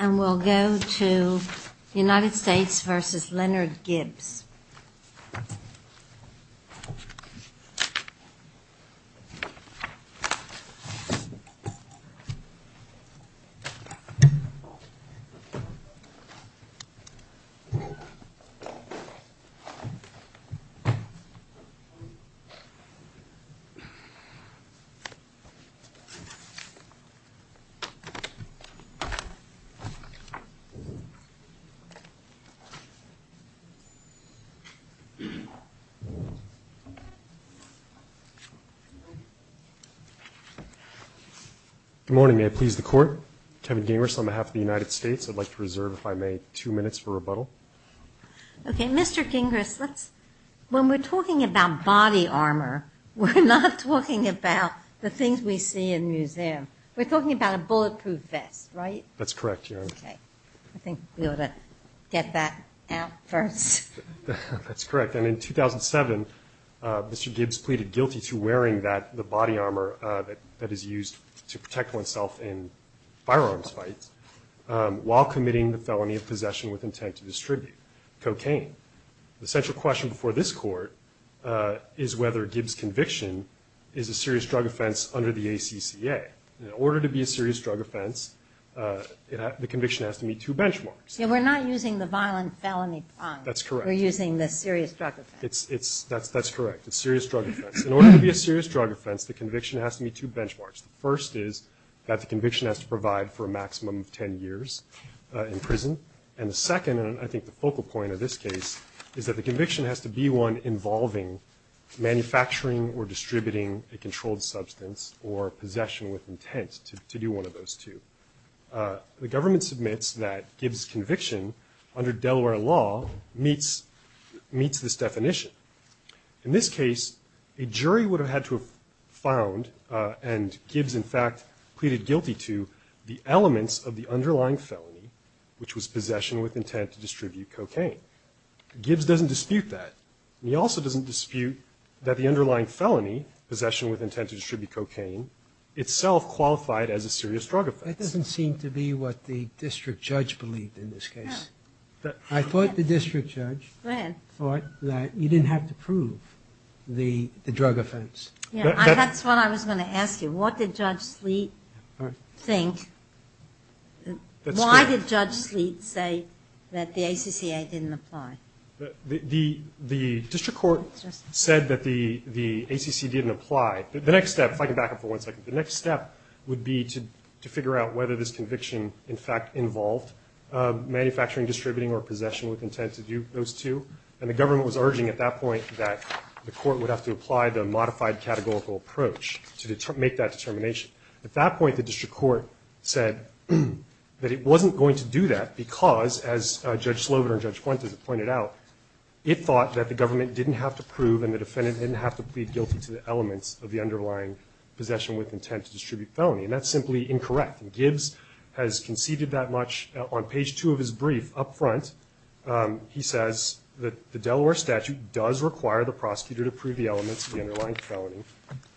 And we'll go to United States v. Leonard Gibbs. Good morning. May I please the Court? Kevin Gingras on behalf of the United States. I'd like to reserve, if I may, two minutes for rebuttal. Okay. Mr. Gingras, when we're talking about body armor, we're not talking about the things we see in museums. We're talking about a bulletproof vest, right? That's correct, Your Honor. Okay. I think we ought to get that out first. That's correct. And in 2007, Mr. Gibbs pleaded guilty to wearing the body armor that is used to protect oneself in firearms fights while committing the felony of possession with intent to distribute cocaine. The central question before this Court is whether Gibbs' conviction is a serious drug offense under the ACCA. In order to be a serious drug offense, the conviction has to meet two benchmarks. Yeah, we're not using the violent felony prong. That's correct. We're using the serious drug offense. That's correct. It's a serious drug offense. In order to be a serious drug offense, the conviction has to meet two benchmarks. The first is that the conviction has to provide for a maximum of 10 years in prison. And the second, and I think the focal point of this case, is that the conviction has to be one involving manufacturing or distributing a controlled substance or possession with intent to do one of those two. The government submits that Gibbs' conviction under Delaware law meets this definition. In this case, a jury would have had to have found, and Gibbs, in fact, pleaded guilty to, the elements of the underlying felony, which was possession with that the underlying felony, possession with intent to distribute cocaine, itself qualified as a serious drug offense. That doesn't seem to be what the district judge believed in this case. I thought the district judge thought that you didn't have to prove the drug offense. That's what I was going to ask you. What did Judge Sleet think? Why did Judge Sleet say that the ACCA didn't apply? The district court said that the ACCA didn't apply. The next step, if I can back up for one second, the next step would be to figure out whether this conviction, in fact, involved manufacturing, distributing, or possession with intent to do those two. And the government was urging at that point that the court would have to apply the modified categorical approach to make that determination. At that point, the district court said that it wasn't going to do that because, as Judge Slobin and Judge Fuentes have pointed out, it thought that the government didn't have to prove and the defendant didn't have to plead guilty to the elements of the underlying possession with intent to distribute felony. And that's simply incorrect. And Gibbs has conceded that much. On page two of his brief, up front, he says that the Delaware statute does require the prosecutor to prove the elements of the underlying felony.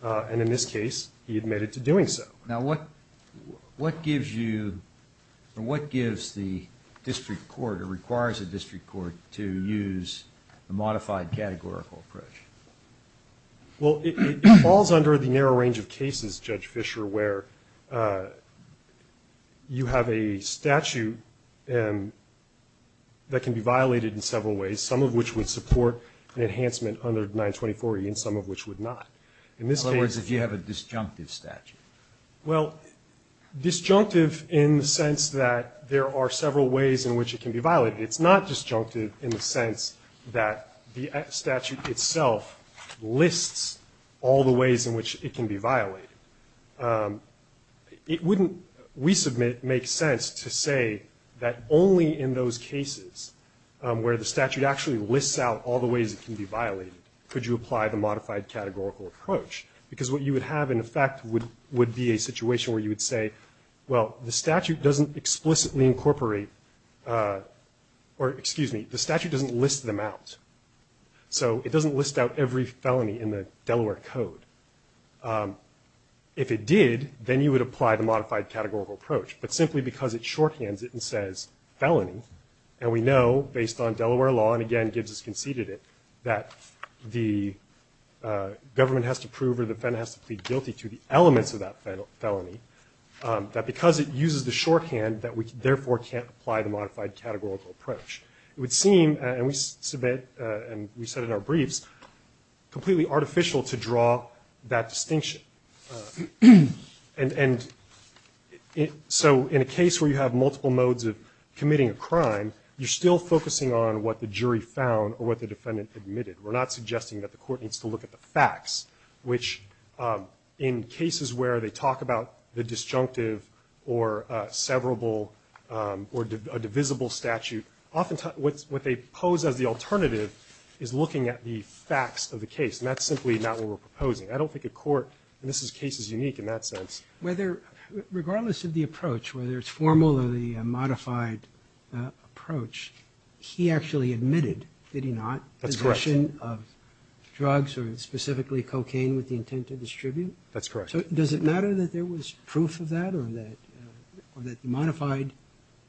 And in this case, he admitted to doing so. Now, what gives you, or what gives the district court or requires the district court to use the modified categorical approach? Well, it falls under the narrow range of cases, Judge Fischer, where you have a statute that can be violated in several ways, some of which would support an enhancement under 924E and some of which would not. In other words, if you have a disjunctive statute. Well, disjunctive in the sense that there are several ways in which it can be violated. It's not disjunctive in the sense that the statute itself lists all the ways in which it can be violated. It wouldn't, we submit, make sense to say that only in those cases where the statute actually lists out all the ways it can be violated could you apply the modified categorical approach. Because what you would have in effect would be a situation where you would say, well, the statute doesn't explicitly incorporate, or excuse me, the statute doesn't list them out. So it doesn't list out every felony in the Delaware Code. If it did, then you would apply the modified categorical approach. But simply because it shorthands it and says felony, and we know based on Delaware law and again, Gibbs has conceded it, that the government has to prove or the defendant has to plead guilty to the elements of that felony, that because it uses the shorthand that we therefore can't apply the modified categorical approach. It would seem, and we submit, and we said in our briefs, completely artificial to draw that distinction. And so in a case where you have multiple modes of committing a crime, you're still focusing on what the jury found or what the defendant admitted. We're not suggesting that the court needs to look at the facts, which in cases where they talk about the disjunctive or severable or divisible statute, what they pose as the alternative is looking at the facts of the case, and that's simply not what we're proposing. I don't think a court, and this is cases unique in that sense. Whether, regardless of the approach, whether it's formal or the modified approach, he actually admitted, did he not, possession of drugs or specifically cocaine with the intent to distribute? That's correct. So does it matter that there was proof of that or that the modified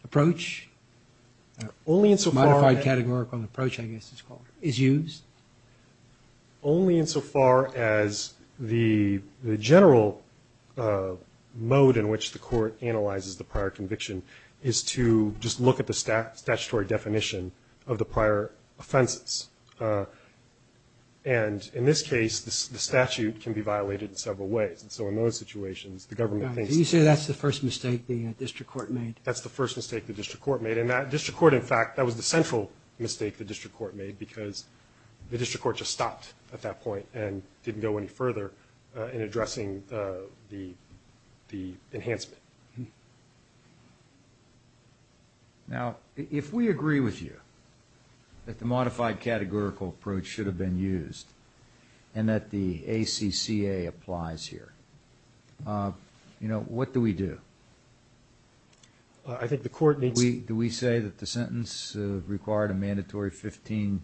approach, modified categorical approach I guess it's called, is used? Only in so far as the general mode in which the court analyzes the prior conviction is to just look at the statutory definition of the prior offenses. And in this case, the statute can be violated in several ways. And so in those situations, the government thinks that's the first mistake the district court made. That's the first mistake the district court made, and that district court in fact, that was the central mistake the district court made because the district court just stopped at that point and didn't go any further in addressing the enhancement. Now if we agree with you that the modified categorical approach should have been used and that the ACCA applies here, what do we do? I think the court needs to... Do we say that the sentence required a mandatory 15,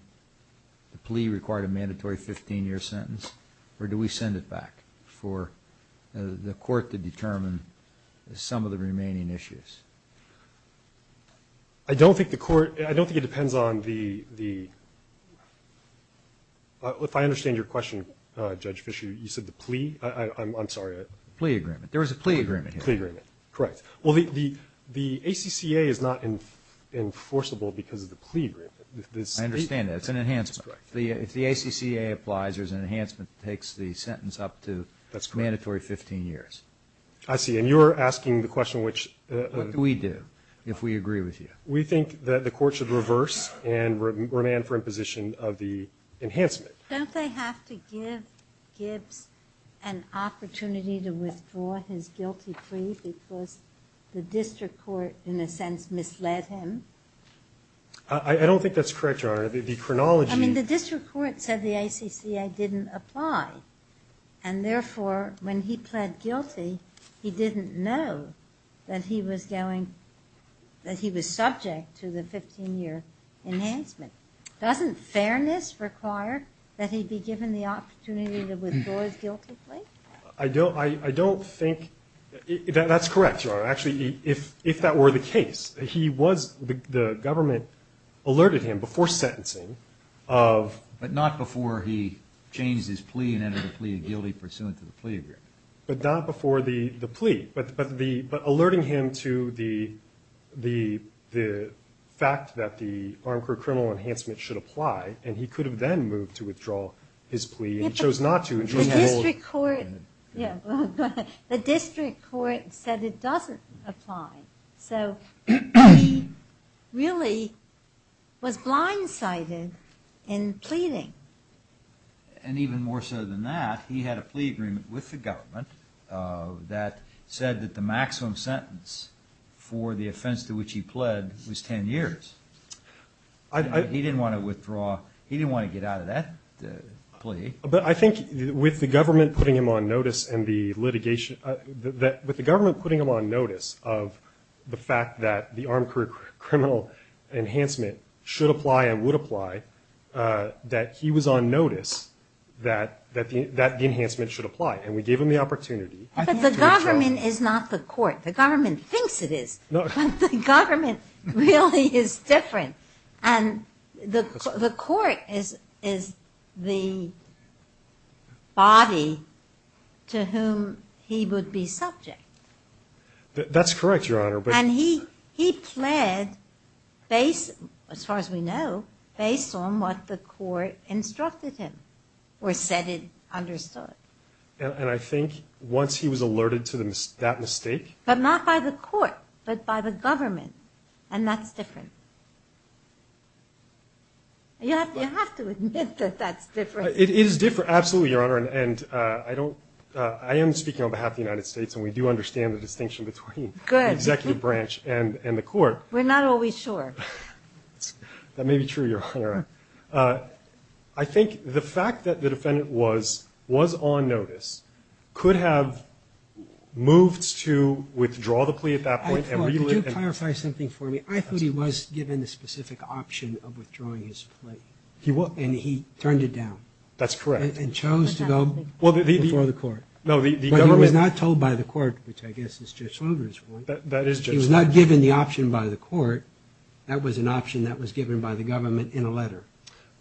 the plea required a mandatory 15 year sentence or do we send it back for the court to determine some of the remaining issues? I don't think the court, I don't think it depends on the, if I understand your question Judge Fischer, you said the plea, I'm sorry. Plea agreement. There was a plea agreement. Plea agreement, correct. Well, the ACCA is not enforceable because of the plea agreement. I understand that. It's an enhancement. If the ACCA applies, there's an enhancement that takes the sentence up to mandatory 15 years. I see. And you're asking the question which... What do we do if we agree with you? We think that the court should reverse and remand for imposition of the enhancement. Don't they have to give Gibbs an opportunity to withdraw his guilty plea because the district court in a sense misled him? I don't think that's correct, Your Honor. The chronology... I mean, the district court said the ACCA didn't apply and therefore when he pled guilty, he didn't know that he was going, that he was subject to the 15 year enhancement. Doesn't fairness require that he be given the opportunity to withdraw his guilty plea? I don't think... That's correct, Your Honor. Actually, if that were the case, he was... The government alerted him before sentencing of... But not before he changed his plea and entered a plea of guilty pursuant to the plea agreement. But not before the plea. But alerting him to the fact that the Arncourt criminal enhancement should apply and he could have then moved to withdraw his plea and he chose not to and chose to hold... The district court said it doesn't apply, so he really was blindsided in pleading. And even more so than that, he had a plea agreement with the government that said that the maximum sentence for the offense to which he pled was 10 years. He didn't want to withdraw, he didn't want to get out of that plea. But I think with the government putting him on notice and the litigation... With the government putting him on notice of the fact that the Arncourt criminal enhancement should apply and would apply, that he was on notice that the enhancement should apply. And we gave him the opportunity... But the government is not the court. The government thinks it is, but the government really is different. And the court is the body to whom he would be subject. That's correct, Your Honor, but... He pled, as far as we know, based on what the court instructed him or said it understood. And I think once he was alerted to that mistake... But not by the court, but by the government, and that's different. You have to admit that that's different. It is different, absolutely, Your Honor, and I am speaking on behalf of the United States and we do understand the distinction between the executive branch and the court. We're not always sure. That may be true, Your Honor. I think the fact that the defendant was on notice could have moved to withdraw the plea at that point. Could you clarify something for me? I thought he was given the specific option of withdrawing his plea, and he turned it down. That's correct. And chose to go before the court. No, the government... But he was not told by the court, which I guess is Judge Slaugher's fault. That is Judge Slaugher's fault. He was not given the option by the court. That was an option that was given by the government in a letter.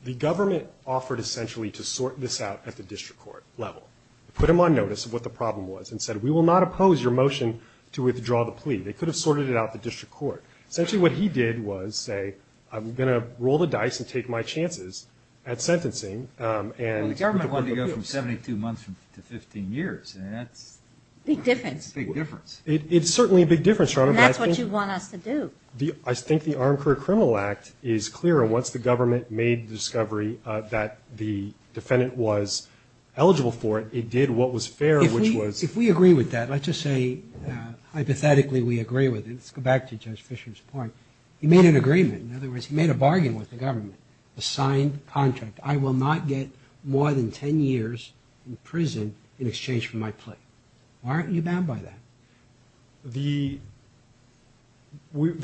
The government offered essentially to sort this out at the district court level. Put him on notice of what the problem was and said, we will not oppose your motion to withdraw the plea. They could have sorted it out at the district court. Essentially what he did was say, I'm going to roll the dice and take my chances at sentencing. The government wanted to go from 72 months to 15 years. Big difference. Big difference. It's certainly a big difference, Your Honor. And that's what you want us to do. I think the Armed Career Criminal Act is clear. Once the government made the discovery that the defendant was eligible for it, it did what was fair, which was... If we agree with that, let's just say hypothetically we agree with it. Let's go back to Judge Fisher's point. He made an agreement. In other words, he made a bargain with the government, a signed contract. I will not get more than 10 years in prison in exchange for my plea. Why aren't you bound by that? The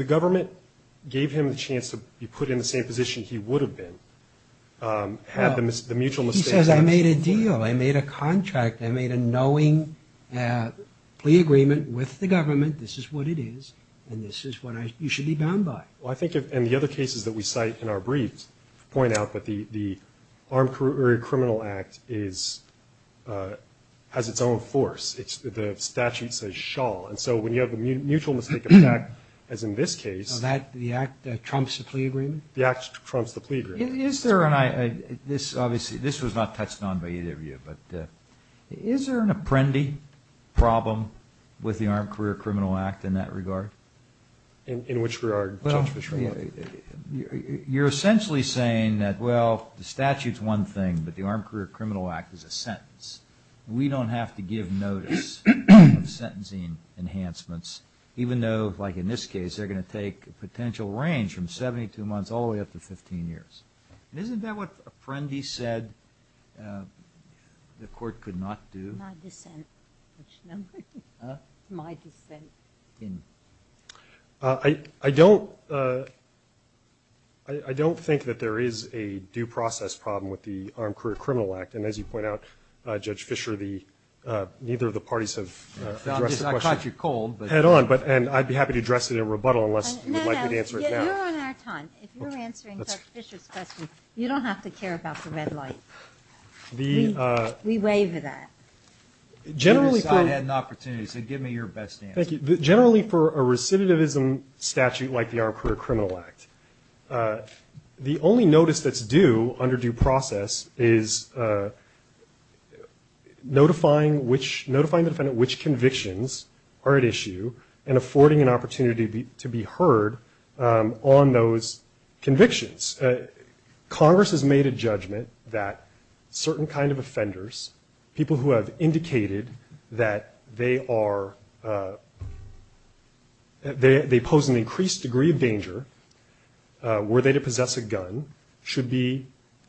government gave him the chance to be put in the same position he would have been. He says, I made a deal. I made a contract. I made a knowing plea agreement with the government. This is what it is, and this is what you should be bound by. Well, I think in the other cases that we cite in our briefs point out that the Armed Career Criminal Act has its own force. The statute says shall. And so when you have a mutual mistake of fact, as in this case... The act trumps the plea agreement? The act trumps the plea agreement. Obviously, this was not touched on by either of you, but is there an apprendee problem with the Armed Career Criminal Act in that regard? In which regard? You're essentially saying that, well, the statute's one thing, but the Armed Career Criminal Act is a sentence. We don't have to give notice of sentencing enhancements, even though, like in this case, they're going to take a potential range from 72 months all the way up to 15 years. Isn't that what apprendee said the court could not do? My dissent. Huh? My dissent. I don't think that there is a due process problem with the Armed Career Criminal Act. And as you point out, Judge Fischer, neither of the parties have addressed the question head on. I caught you cold. And I'd be happy to address it in rebuttal unless you would like me to answer it now. No, no, you're on our time. If you're answering Judge Fischer's question, you don't have to care about the red light. We waiver that. Generally for a recidivism statute like the Armed Career Criminal Act, the only notice that's due under due process is notifying the defendant which convictions are at issue and affording an opportunity to be heard on those convictions. Congress has made a judgment that certain kind of offenders, people who have indicated that they are, they pose an increased degree of danger were they to possess a gun, should be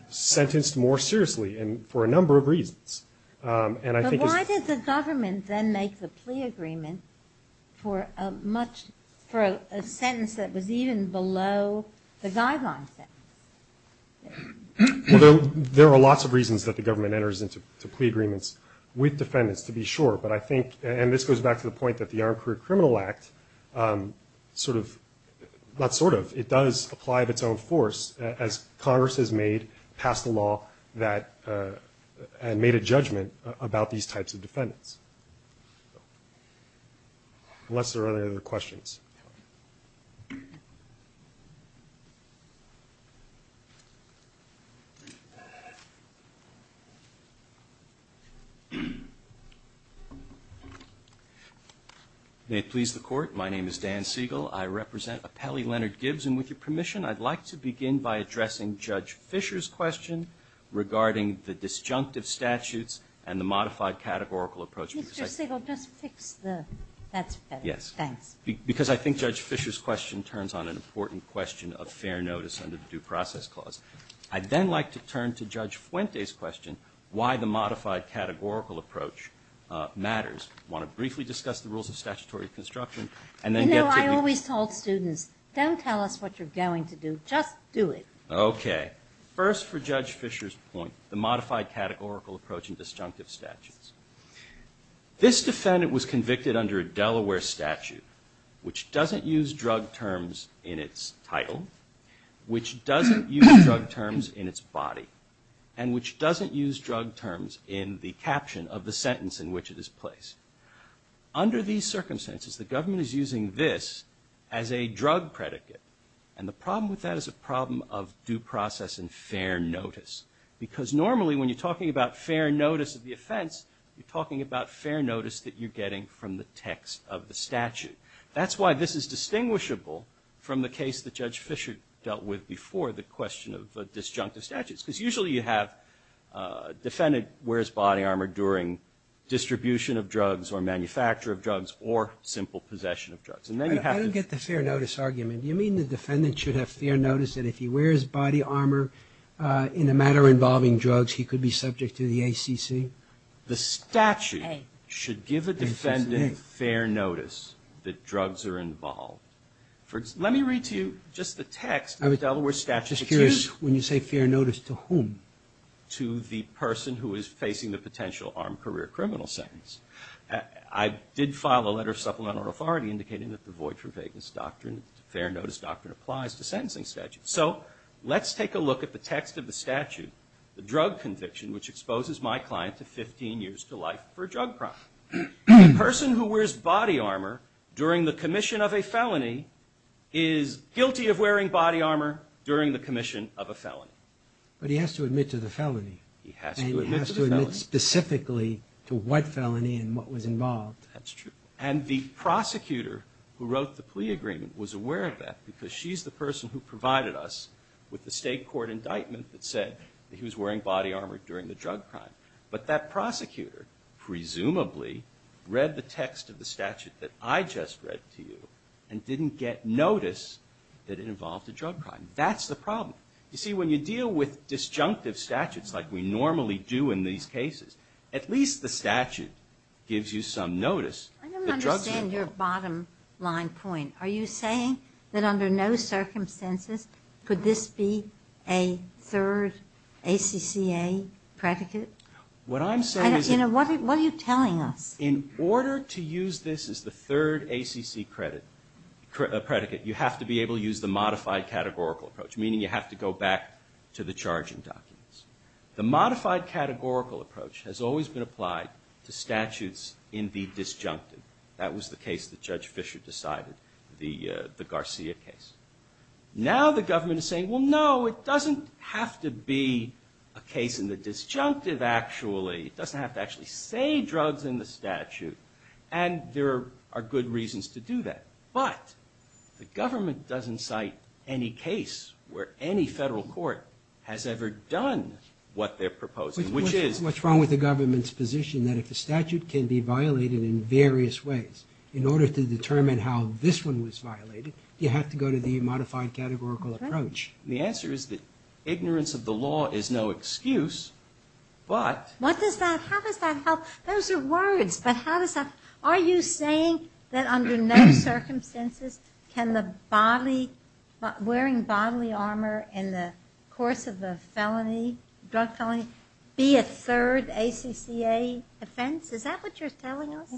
sentenced more seriously and for a number of reasons. But why did the government then make the plea agreement for a sentence that was even below the guideline sentence? There are lots of reasons that the government enters into plea agreements with defendants to be sure. And this goes back to the point that the Armed Career Criminal Act sort of, not sort of, it does apply of its own force as Congress has made, passed a law that, and made a judgment about these types of defendants. Unless there are other questions. May it please the court, my name is Dan Siegel. I represent Appellee Leonard Gibbs and with your permission I'd like to begin by addressing Judge Fisher's question regarding the disjunctive statutes and the modified categorical approach. Mr. Siegel, just fix the, that's better. Because I think Judge Fisher's question turns on an important question of fair notice under the due process clause. I'd then like to turn to Judge Fuente's question, why the modified categorical approach matters. I want to briefly discuss the rules of statutory construction and then get to you. You know, I always told students, don't tell us what you're going to do, just do it. Okay, first for Judge Fisher's point, the modified categorical approach in disjunctive statutes. This defendant was convicted under a Delaware statute, which doesn't use drug terms in its title, which doesn't use drug terms in its body, and which doesn't use drug terms in the caption of the sentence in which it is placed. Under these circumstances, the government is using this as a drug predicate. And the problem with that is a problem of due process and fair notice. Because normally when you're talking about fair notice of the offense, you're talking about fair notice that you're getting from the text of the statute. That's why this is distinguishable from the case that Judge Fisher dealt with before, the question of disjunctive statutes. Because usually you have a defendant wears body armor during distribution of drugs or manufacture of drugs or simple possession of drugs. I don't get the fair notice argument. Do you mean the defendant should have fair notice that if he wears body armor in a matter involving drugs he could be subject to the ACC? The statute should give a defendant fair notice that drugs are involved. Let me read to you just the text of the Delaware statute. I'm just curious, when you say fair notice, to whom? To the person who is facing the potential armed career criminal sentence. I did file a letter of supplemental authority indicating that the void for vagueness doctrine, fair notice doctrine applies to sentencing statutes. So let's take a look at the text of the statute, the drug conviction which exposes my client to 15 years to life for a drug crime. The person who wears body armor during the commission of a felony is guilty of wearing body armor during the commission of a felony. But he has to admit to the felony. And he has to admit specifically to what felony and what was involved. And the prosecutor who wrote the plea agreement was aware of that because she's the person who provided us with the state court indictment that said he was wearing body armor during the drug crime. But that prosecutor presumably read the text of the statute that I just read to you and didn't get notice that it involved a drug crime. That's the problem. You see, when you deal with disjunctive statutes like we normally do in these cases, at least the statute gives you some notice. I don't understand your bottom line point. Are you saying that under no circumstances could this be a third ACCA predicate? What I'm saying is... What are you telling us? In order to use this as the third ACC predicate, you have to be able to use the modified categorical approach, meaning you have to go back to the charging documents. The modified categorical approach has always been applied to statutes in the disjunctive. That was the case that Judge Fisher decided, the Garcia case. Now the government is saying, well, no, it doesn't have to be a case in the disjunctive actually. It doesn't have to actually say drugs in the statute, and there are good reasons to do that. But the government doesn't cite any case where any federal court has ever done what they're proposing, which is... What's wrong with the government's position that if a statute can be violated in various ways, in order to determine how this one was violated, you have to go to the modified categorical approach? The answer is that ignorance of the law is no excuse, but... How does that help? Those are words, but how does that... Are you saying that under no circumstances can wearing bodily armor in the course of a drug felony be a third ACCA offense? Is that what you're telling us?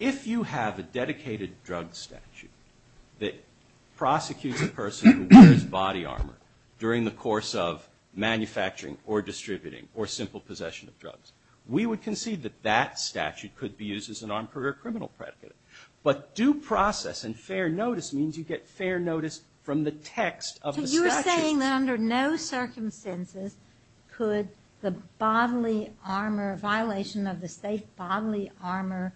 If you have a dedicated drug statute that prosecutes a person who wears body armor during the course of manufacturing, or distributing, or simple possession of drugs, we would concede that that statute could be used as an armed career criminal predicate. But due process and fair notice means you get fair notice from the text of the statute. So you're saying that under no circumstances could the bodily armor, violation of the state bodily armor,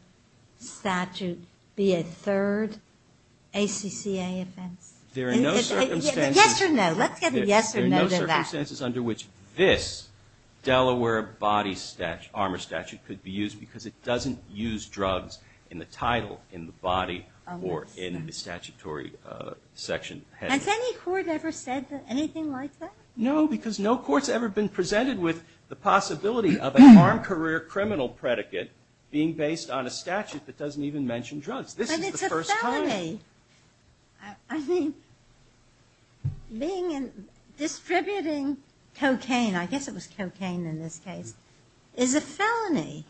be a third ACCA offense? Yes or no? Let's get a yes or no to that. There are no circumstances under which this Delaware body armor statute could be used because it doesn't use drugs in the title, in the body, or in the statutory section. Has any court ever said anything like that? No, because no court's ever been presented with the possibility of an armed career criminal predicate being based on a statute that doesn't even mention drugs. This is the first time. But it's a felony. I mean, being in, distributing cocaine, I guess it was cocaine in this case, is a felony.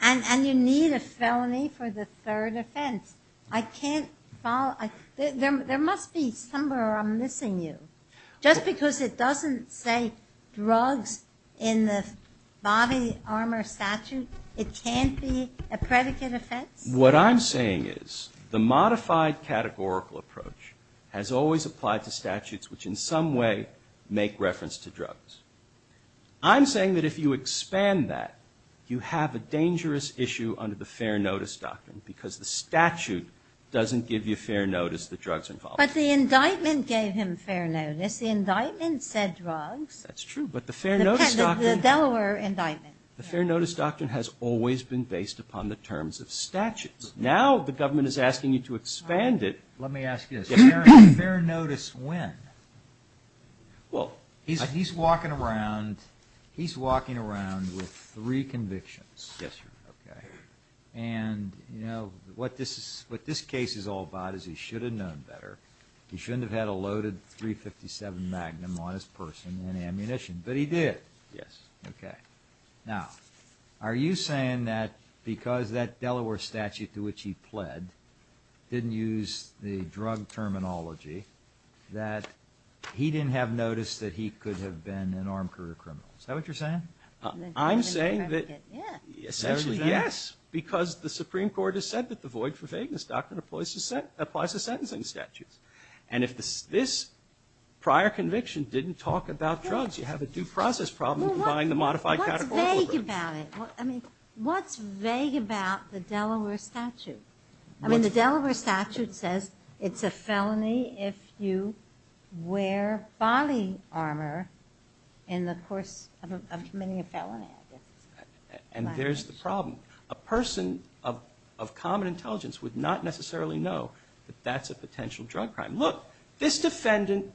And you need a felony for the third offense. I can't follow... There must be somewhere I'm missing you. Just because it doesn't say drugs in the body armor statute, it can't be a predicate offense? What I'm saying is the modified categorical approach has always applied to statutes which in some way make reference to drugs. I'm saying that if you expand that, you have a dangerous issue under the fair notice doctrine because the statute doesn't give you fair notice that drugs are involved. But the indictment gave him fair notice. The indictment said drugs. The Delaware indictment. The fair notice doctrine has always been based upon the terms of statutes. Now the government is asking you to expand it. Let me ask you this. Fair notice when? He's walking around with three convictions. And what this case is all about is he should have known better. He shouldn't have had a loaded .357 Magnum on his person and ammunition. But he did. Now, are you saying that because that Delaware statute to which he pled didn't use the drug terminology, that he didn't have notice that he could have been an armed career criminal? Is that what you're saying? I'm saying that essentially yes, because the Supreme Court has said that the void for vagueness doctrine applies to sentencing statutes. And if this prior conviction didn't talk about drugs, you have a due process problem. What's vague about it? I mean, what's vague about the Delaware statute? I mean, the Delaware statute says it's a felony if you wear body armor in the course of committing a felony. And there's the problem. A person of common intelligence would not necessarily know that that's a potential drug crime. Look, this defendant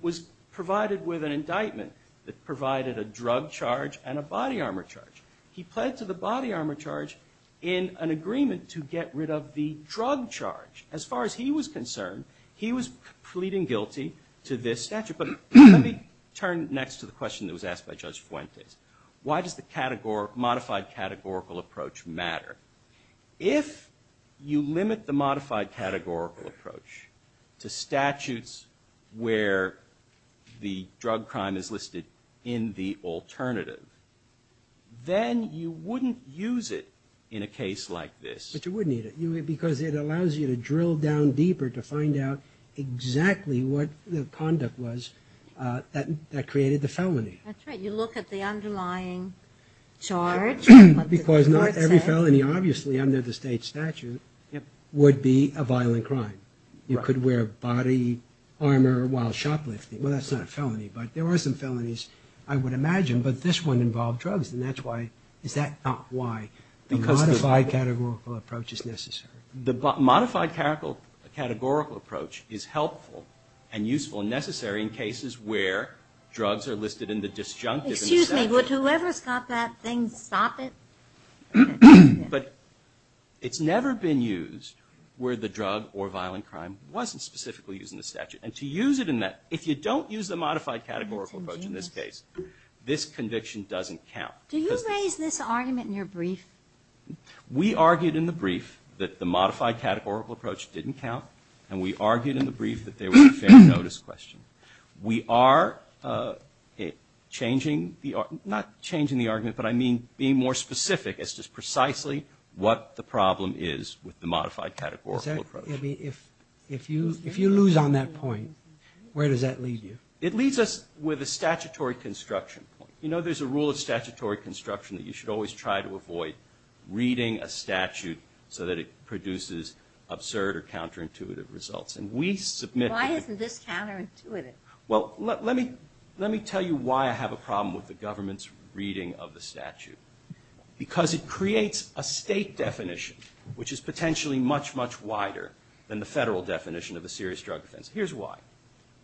was provided with an indictment that provided a drug charge and a body armor charge. He pled to the body armor charge in an agreement to get rid of the drug charge. As far as he was concerned, he was pleading guilty to this statute. But let me turn next to the question that was asked by Judge Fuentes. Why does the modified categorical approach matter? If you limit the modified categorical approach to statutes where the drug crime is listed in the alternative, then you wouldn't use it in a case like this. But you wouldn't need it, because it allows you to drill down deeper to find out exactly what the conduct was that created the felony. That's right. You look at the underlying charge. Because not every felony, obviously under the state statute, would be a violent crime. You could wear body armor while shoplifting. Well, that's not a felony, but there are some felonies I would imagine. But this one involved drugs, and that's why. Is that not why the modified categorical approach is necessary? The modified categorical approach is helpful and useful and necessary in cases where drugs are listed in the alternative. Excuse me, would whoever's got that thing stop it? But it's never been used where the drug or violent crime wasn't specifically used in the statute. And to use it in that, if you don't use the modified categorical approach in this case, this conviction doesn't count. Do you raise this argument in your brief? We argued in the brief that the modified categorical approach didn't count. And we argued in the brief that there was a fair notice question. Not changing the argument, but I mean being more specific as to precisely what the problem is with the modified categorical approach. If you lose on that point, where does that lead you? It leads us with a statutory construction point. You know, there's a rule of statutory construction that you should always try to avoid reading a statute so that it produces absurd or counterintuitive results. Why isn't this counterintuitive? Well, let me tell you why I have a problem with the government's reading of the statute. Because it creates a state definition, which is potentially much, much wider than the federal definition of a serious drug offense. Here's why.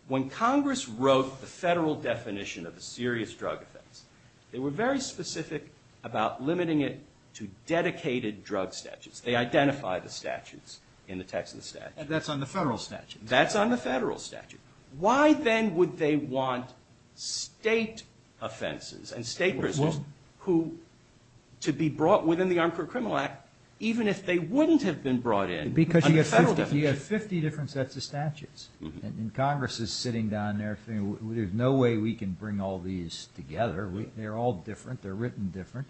When Congress wrote the federal definition of a serious drug offense, they were very specific about limiting it to dedicated drug statutes. They identified the statutes in the Texas statute. And that's on the federal statute. That's on the federal statute. Why, then, would they want state offenses and state prisoners to be brought within the Armed Criminal Act even if they wouldn't have been brought in under the federal definition? Because you have 50 different sets of statutes. And Congress is sitting down there thinking, there's no way we can bring all these together. They're all different. They're written different.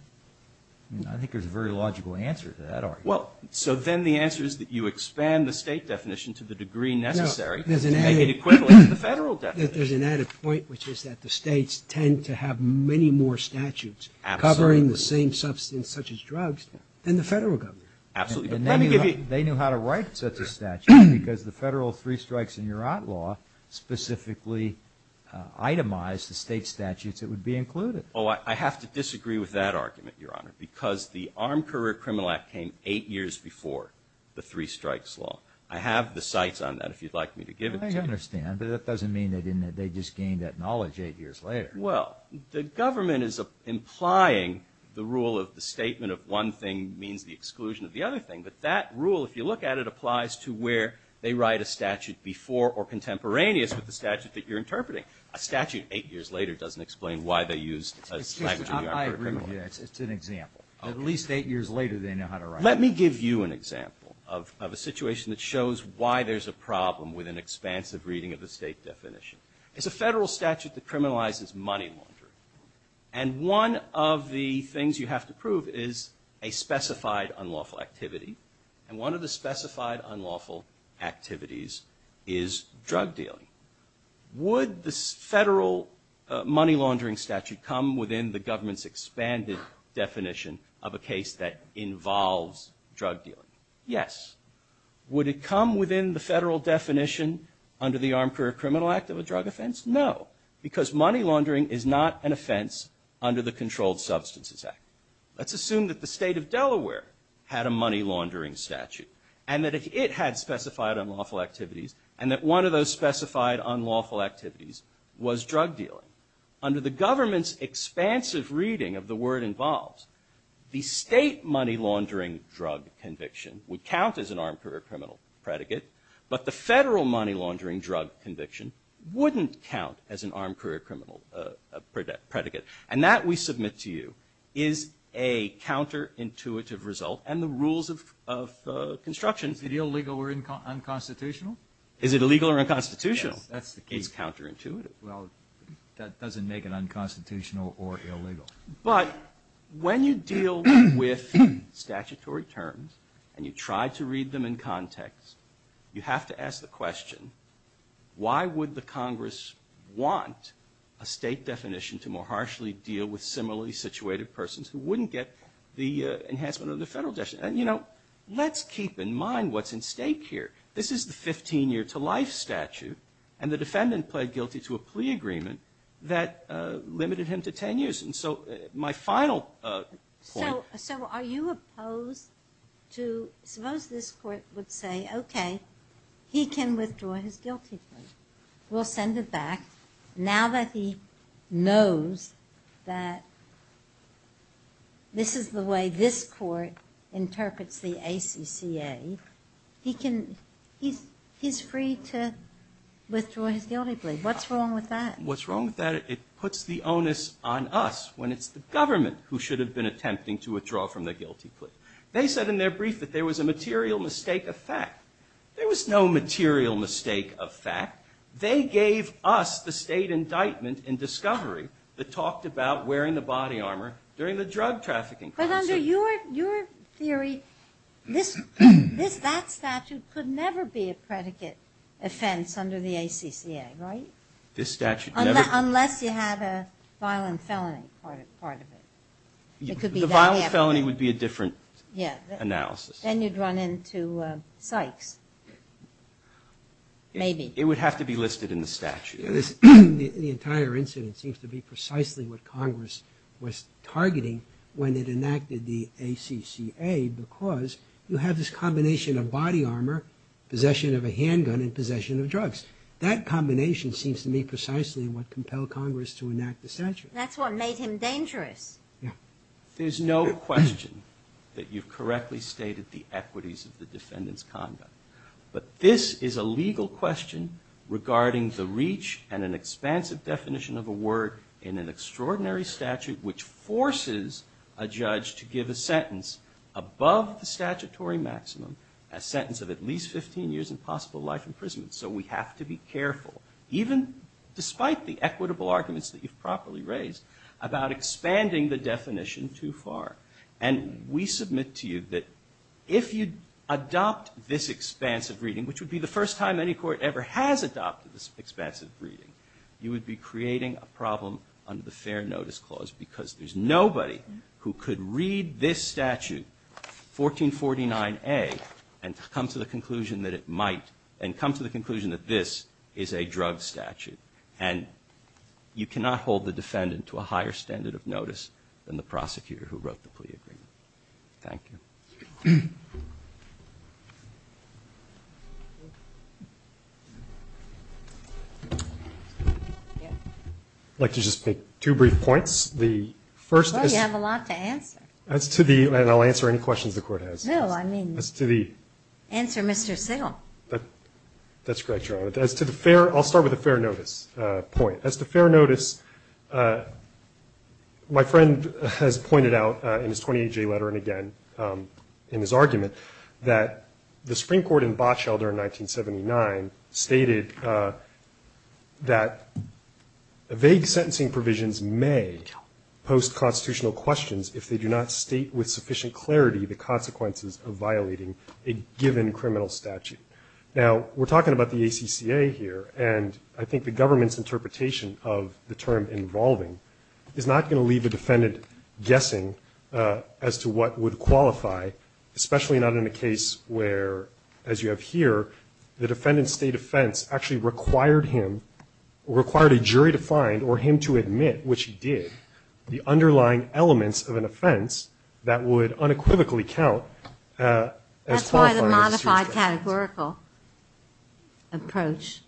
I think there's a very logical answer to that argument. Well, so then the answer is that you expand the state definition to the degree necessary to make it equivalent to the federal definition. No. There's an added point, which is that the states tend to have many more statutes covering the same substance such as drugs than the federal government. Absolutely. And they knew how to write such a statute. Because the federal Three Strikes and Urart Law specifically itemized the state statutes that would be included. Oh, I have to disagree with that argument, Your Honor, because the Armed Career Criminal Act came eight years before the Three Strikes Law. I have the cites on that if you'd like me to give it to you. I understand, but that doesn't mean they just gained that knowledge eight years later. Well, the government is implying the rule of the statement of one thing means the exclusion of the other thing. But that rule, if you look at it, applies to where they write a statute before or contemporaneous with the statute that you're interpreting. A statute eight years later doesn't explain why they used a statute of the Armed Career Criminal Act. I agree with you. It's an example. At least eight years later they know how to write it. Let me give you an example of a situation that shows why there's a problem with an expansive reading of the state definition. It's a federal statute that criminalizes money laundering. And one of the things you have to prove is a specified unlawful activity. And one of the specified unlawful activities is drug dealing. Would the federal money laundering statute come within the government's expanded definition of a case that involves drug dealing? Yes. Would it come within the federal definition under the Armed Career Criminal Act of a drug offense? No, because money laundering is not an offense under the Controlled Substances Act. Let's assume that the state of Delaware had a money laundering statute, and that it had specified unlawful activities, and that one of those specified unlawful activities was drug dealing. Under the government's expansive reading of the word involves, the state money laundering drug conviction would count as an armed career criminal predicate, but the federal money laundering drug conviction wouldn't count as an armed career criminal predicate. And that, we submit to you, is a counterintuitive result. And the rules of construction. Is it illegal or unconstitutional? Is it illegal or unconstitutional? Yes, that's the case. It's counterintuitive. Well, that doesn't make it unconstitutional or illegal. But when you deal with statutory terms, and you try to read them in context, you have to ask the question, why would the Congress want a state definition to more harshly deal with similarly situated persons who wouldn't get the enhancement of the federal definition? And, you know, let's keep in mind what's at stake here. This is the 15 year to life statute, and the defendant pled guilty to a plea agreement that limited him to 10 years. And so, my final point. So are you opposed to, suppose this court would say, okay, he can withdraw his guilty plea. We'll send it back. Now that he knows that this is the way this court interprets the ACCA, he's free to withdraw his guilty plea. What's wrong with that? It puts the onus on us when it's the government who should have been attempting to withdraw from the guilty plea. They said in their brief that there was a material mistake of fact. There was no material mistake of fact. They gave us the state indictment in discovery that talked about wearing the body armor during the drug trafficking. But under your theory, that statute could never be a predicate offense under the ACCA, right? Unless you had a violent felony part of it. The violent felony would be a different analysis. Then you'd run into Sykes. Maybe. It would have to be listed in the statute. The entire incident seems to be precisely what Congress was targeting when it enacted the ACCA, because you have this combination of body armor, possession of a handgun, and possession of drugs. That combination seems to be precisely what compelled Congress to enact the statute. There's no question that you've correctly stated the equities of the defendant's conduct. But this is a legal question regarding the reach and an expansive definition of a word in an extraordinary statute, which forces a judge to give a sentence above the statutory maximum, a sentence of at least 15 years and possible life imprisonment. So we have to be careful, even despite the equitable arguments that you've properly raised, about expanding the definition too far. And we submit to you that if you adopt this expansive reading, which would be the first time any court ever has adopted this expansive reading, you would be creating a problem under the Fair Notice Clause, because there's nobody who could read this statute, 1449A, and come to the conclusion that this is a drug statute. And you cannot hold the defendant to a higher standard of notice than the prosecutor who wrote the plea agreement. Thank you. I'd like to just make two brief points. Well, you have a lot to answer. And I'll answer any questions the Court has. No, I mean answer Mr. Sittle. That's correct, Your Honor. I'll start with the fair notice point. As to fair notice, my friend has pointed out in his 28-J letter and again in his argument that the Supreme Court in Botschelder in 1979 stated that vague sentencing provisions may post constitutional questions if they do not state with sufficient clarity the consequences of violating a given criminal statute. Now, we're talking about the ACCA here, and I think the government's interpretation of the term involving is not going to leave the defendant guessing as to what would qualify, especially not in a case where, as you have here, the defendant's state offense actually required him, required a jury to find or him to admit, which he did, the underlying elements of an offense that would unequivocally count. That's why the modified categorical approach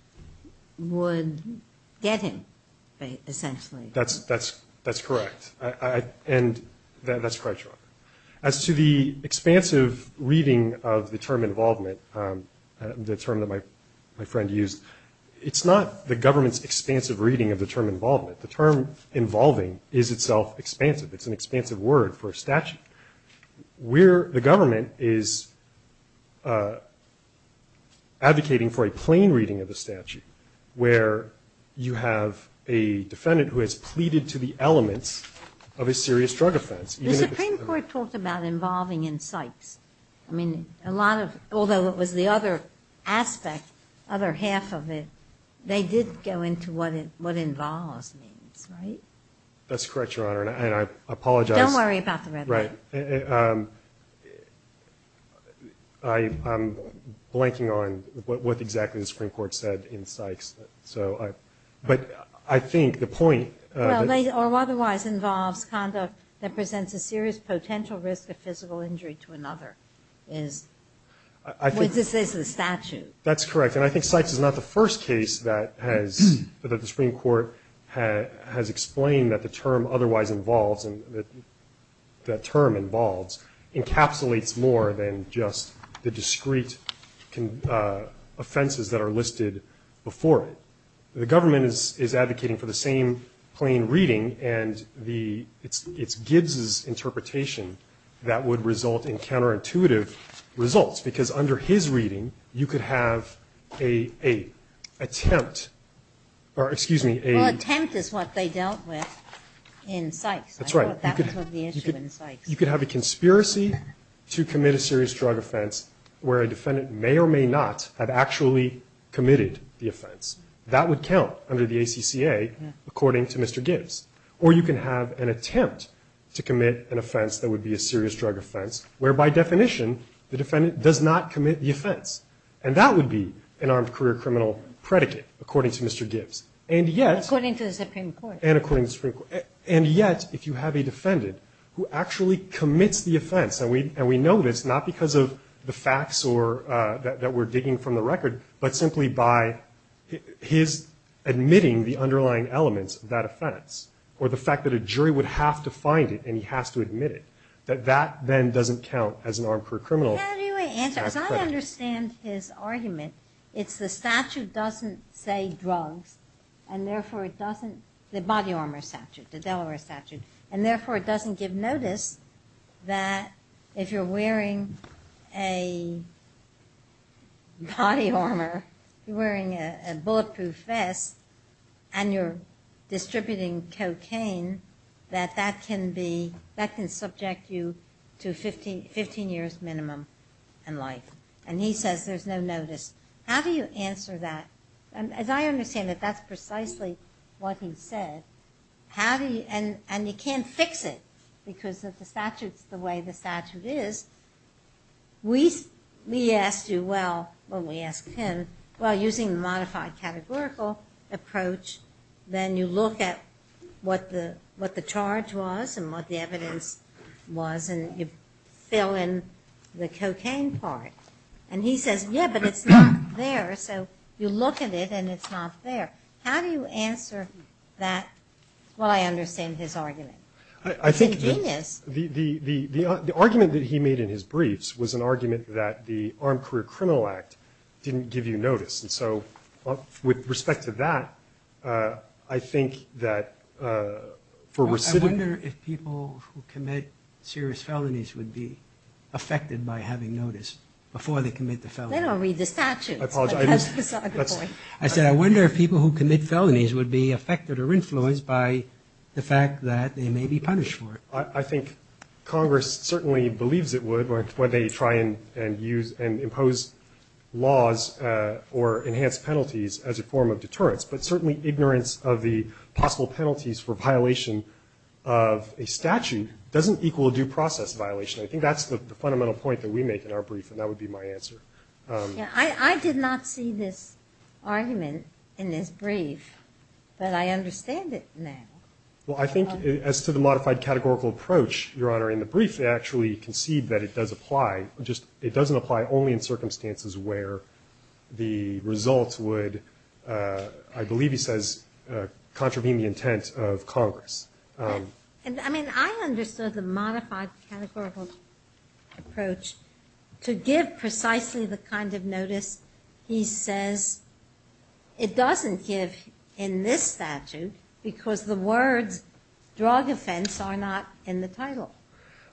would get him, essentially. That's correct. And that's correct, Your Honor. As to the expansive reading of the term involvement, the term that my friend used, it's not the government's expansive reading of the term involvement. The term involving is itself expansive. It's an expansive word for a statute. The government is advocating for a plain reading of the statute, where you have a defendant who has pleaded to the elements of a serious drug offense. The Supreme Court talked about involving in sites. I mean, a lot of, although it was the other aspect, other half of it, they did go into what involves means, right? That's correct, Your Honor, and I apologize. Don't worry about the red line. Right. I'm blanking on what exactly the Supreme Court said in Sykes. But I think the point... Or otherwise involves conduct that presents a serious potential risk of physical injury to another. This is the statute. That's correct, and I think Sykes is not the first case that the Supreme Court has explained that the term otherwise involves, that term involves, encapsulates more than just the discrete offenses that are listed before it. The government is advocating for the same plain reading, and it's Gibbs' interpretation that would result in counterintuitive results, because under his reading, you could have a attempt, or excuse me, a... Well, attempt is what they dealt with in Sykes. That's right. I thought that was the issue in Sykes. You could have a conspiracy to commit a serious drug offense, where a defendant may or may not have actually committed the offense. That would count under the ACCA, according to Mr. Gibbs. Or you can have an attempt to commit an offense that would be a serious drug offense, where by definition the defendant does not commit the offense, and that would be an armed career criminal predicate, according to Mr. Gibbs. And yet... According to the Supreme Court. And according to the Supreme Court. And yet, if you have a defendant who actually commits the offense, and we know this, not because of the facts that we're digging from the record, but simply by his admitting the underlying elements of that offense, or the fact that a jury would have to find it and he has to admit it, that that then doesn't count as an armed career criminal predicate. How do you answer? Because I understand his argument. It's the statute doesn't say drugs, and therefore it doesn't... The body armor statute, the Delaware statute, and therefore it doesn't give notice that if you're wearing a body armor, you're wearing a bulletproof vest, and you're distributing cocaine, that that can subject you to 15 years minimum in life. And he says there's no notice. How do you answer that? As I understand it, that's precisely what he said. And you can't fix it because the statute's the way the statute is. We asked you, well, when we asked him, well, using the modified categorical approach, then you look at what the charge was and what the evidence was, and you fill in the cocaine part. And he says, yeah, but it's not there. So you look at it, and it's not there. How do you answer that? Well, I understand his argument. He's a genius. The argument that he made in his briefs was an argument that the Armed Career Criminal Act didn't give you notice. And so with respect to that, I think that for recidivism... I wonder if people who commit serious felonies would be affected by having notice before they commit the felony. They don't read the statute. I apologize. That's a good point. I said, I wonder if people who commit felonies would be affected or influenced by the fact that they may be punished for it. I think Congress certainly believes it would when they try and impose laws or enhance penalties as a form of deterrence. But certainly ignorance of the possible penalties for violation of a statute doesn't equal a due process violation. I think that's the fundamental point that we make in our brief, and that would be my answer. I did not see this argument in his brief, but I understand it now. Well, I think as to the modified categorical approach, Your Honor, in the brief they actually concede that it does apply. It doesn't apply only in circumstances where the results would, I believe he says, contravene the intent of Congress. I mean, I understood the modified categorical approach to give precisely the kind of notice he says it doesn't give in this statute because the words drug offense are not in the title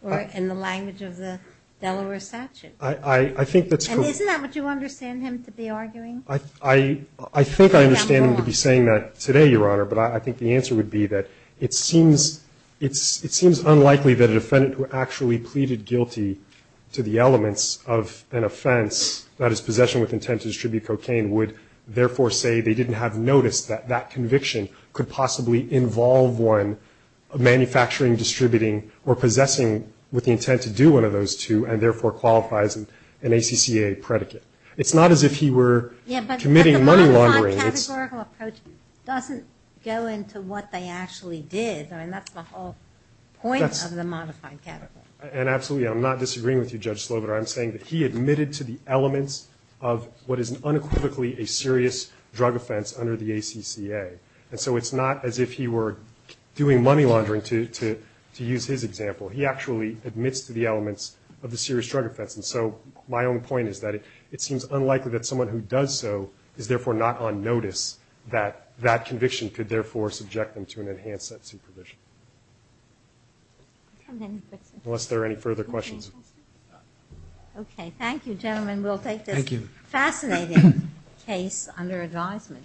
or in the language of the Delaware statute. And isn't that what you understand him to be arguing? I think I understand him to be saying that today, Your Honor, but I think the answer would be that it seems unlikely that a defendant who actually pleaded guilty to the elements of an offense, that is possession with intent to distribute cocaine, would therefore say they didn't have notice that that conviction could possibly involve one manufacturing, distributing, or possessing with the intent to do one of those two and therefore qualifies an ACCA predicate. It's not as if he were committing money laundering. The categorical approach doesn't go into what they actually did. I mean, that's the whole point of the modified categorical approach. And absolutely, I'm not disagreeing with you, Judge Slobodar. I'm saying that he admitted to the elements of what is unequivocally a serious drug offense under the ACCA. And so it's not as if he were doing money laundering, to use his example. He actually admits to the elements of the serious drug offense. And so my own point is that it seems unlikely that someone who does so is therefore not on notice that that conviction could therefore subject them to an enhanced sense of supervision. Unless there are any further questions. Okay, thank you, gentlemen. We'll take this fascinating case under advisement.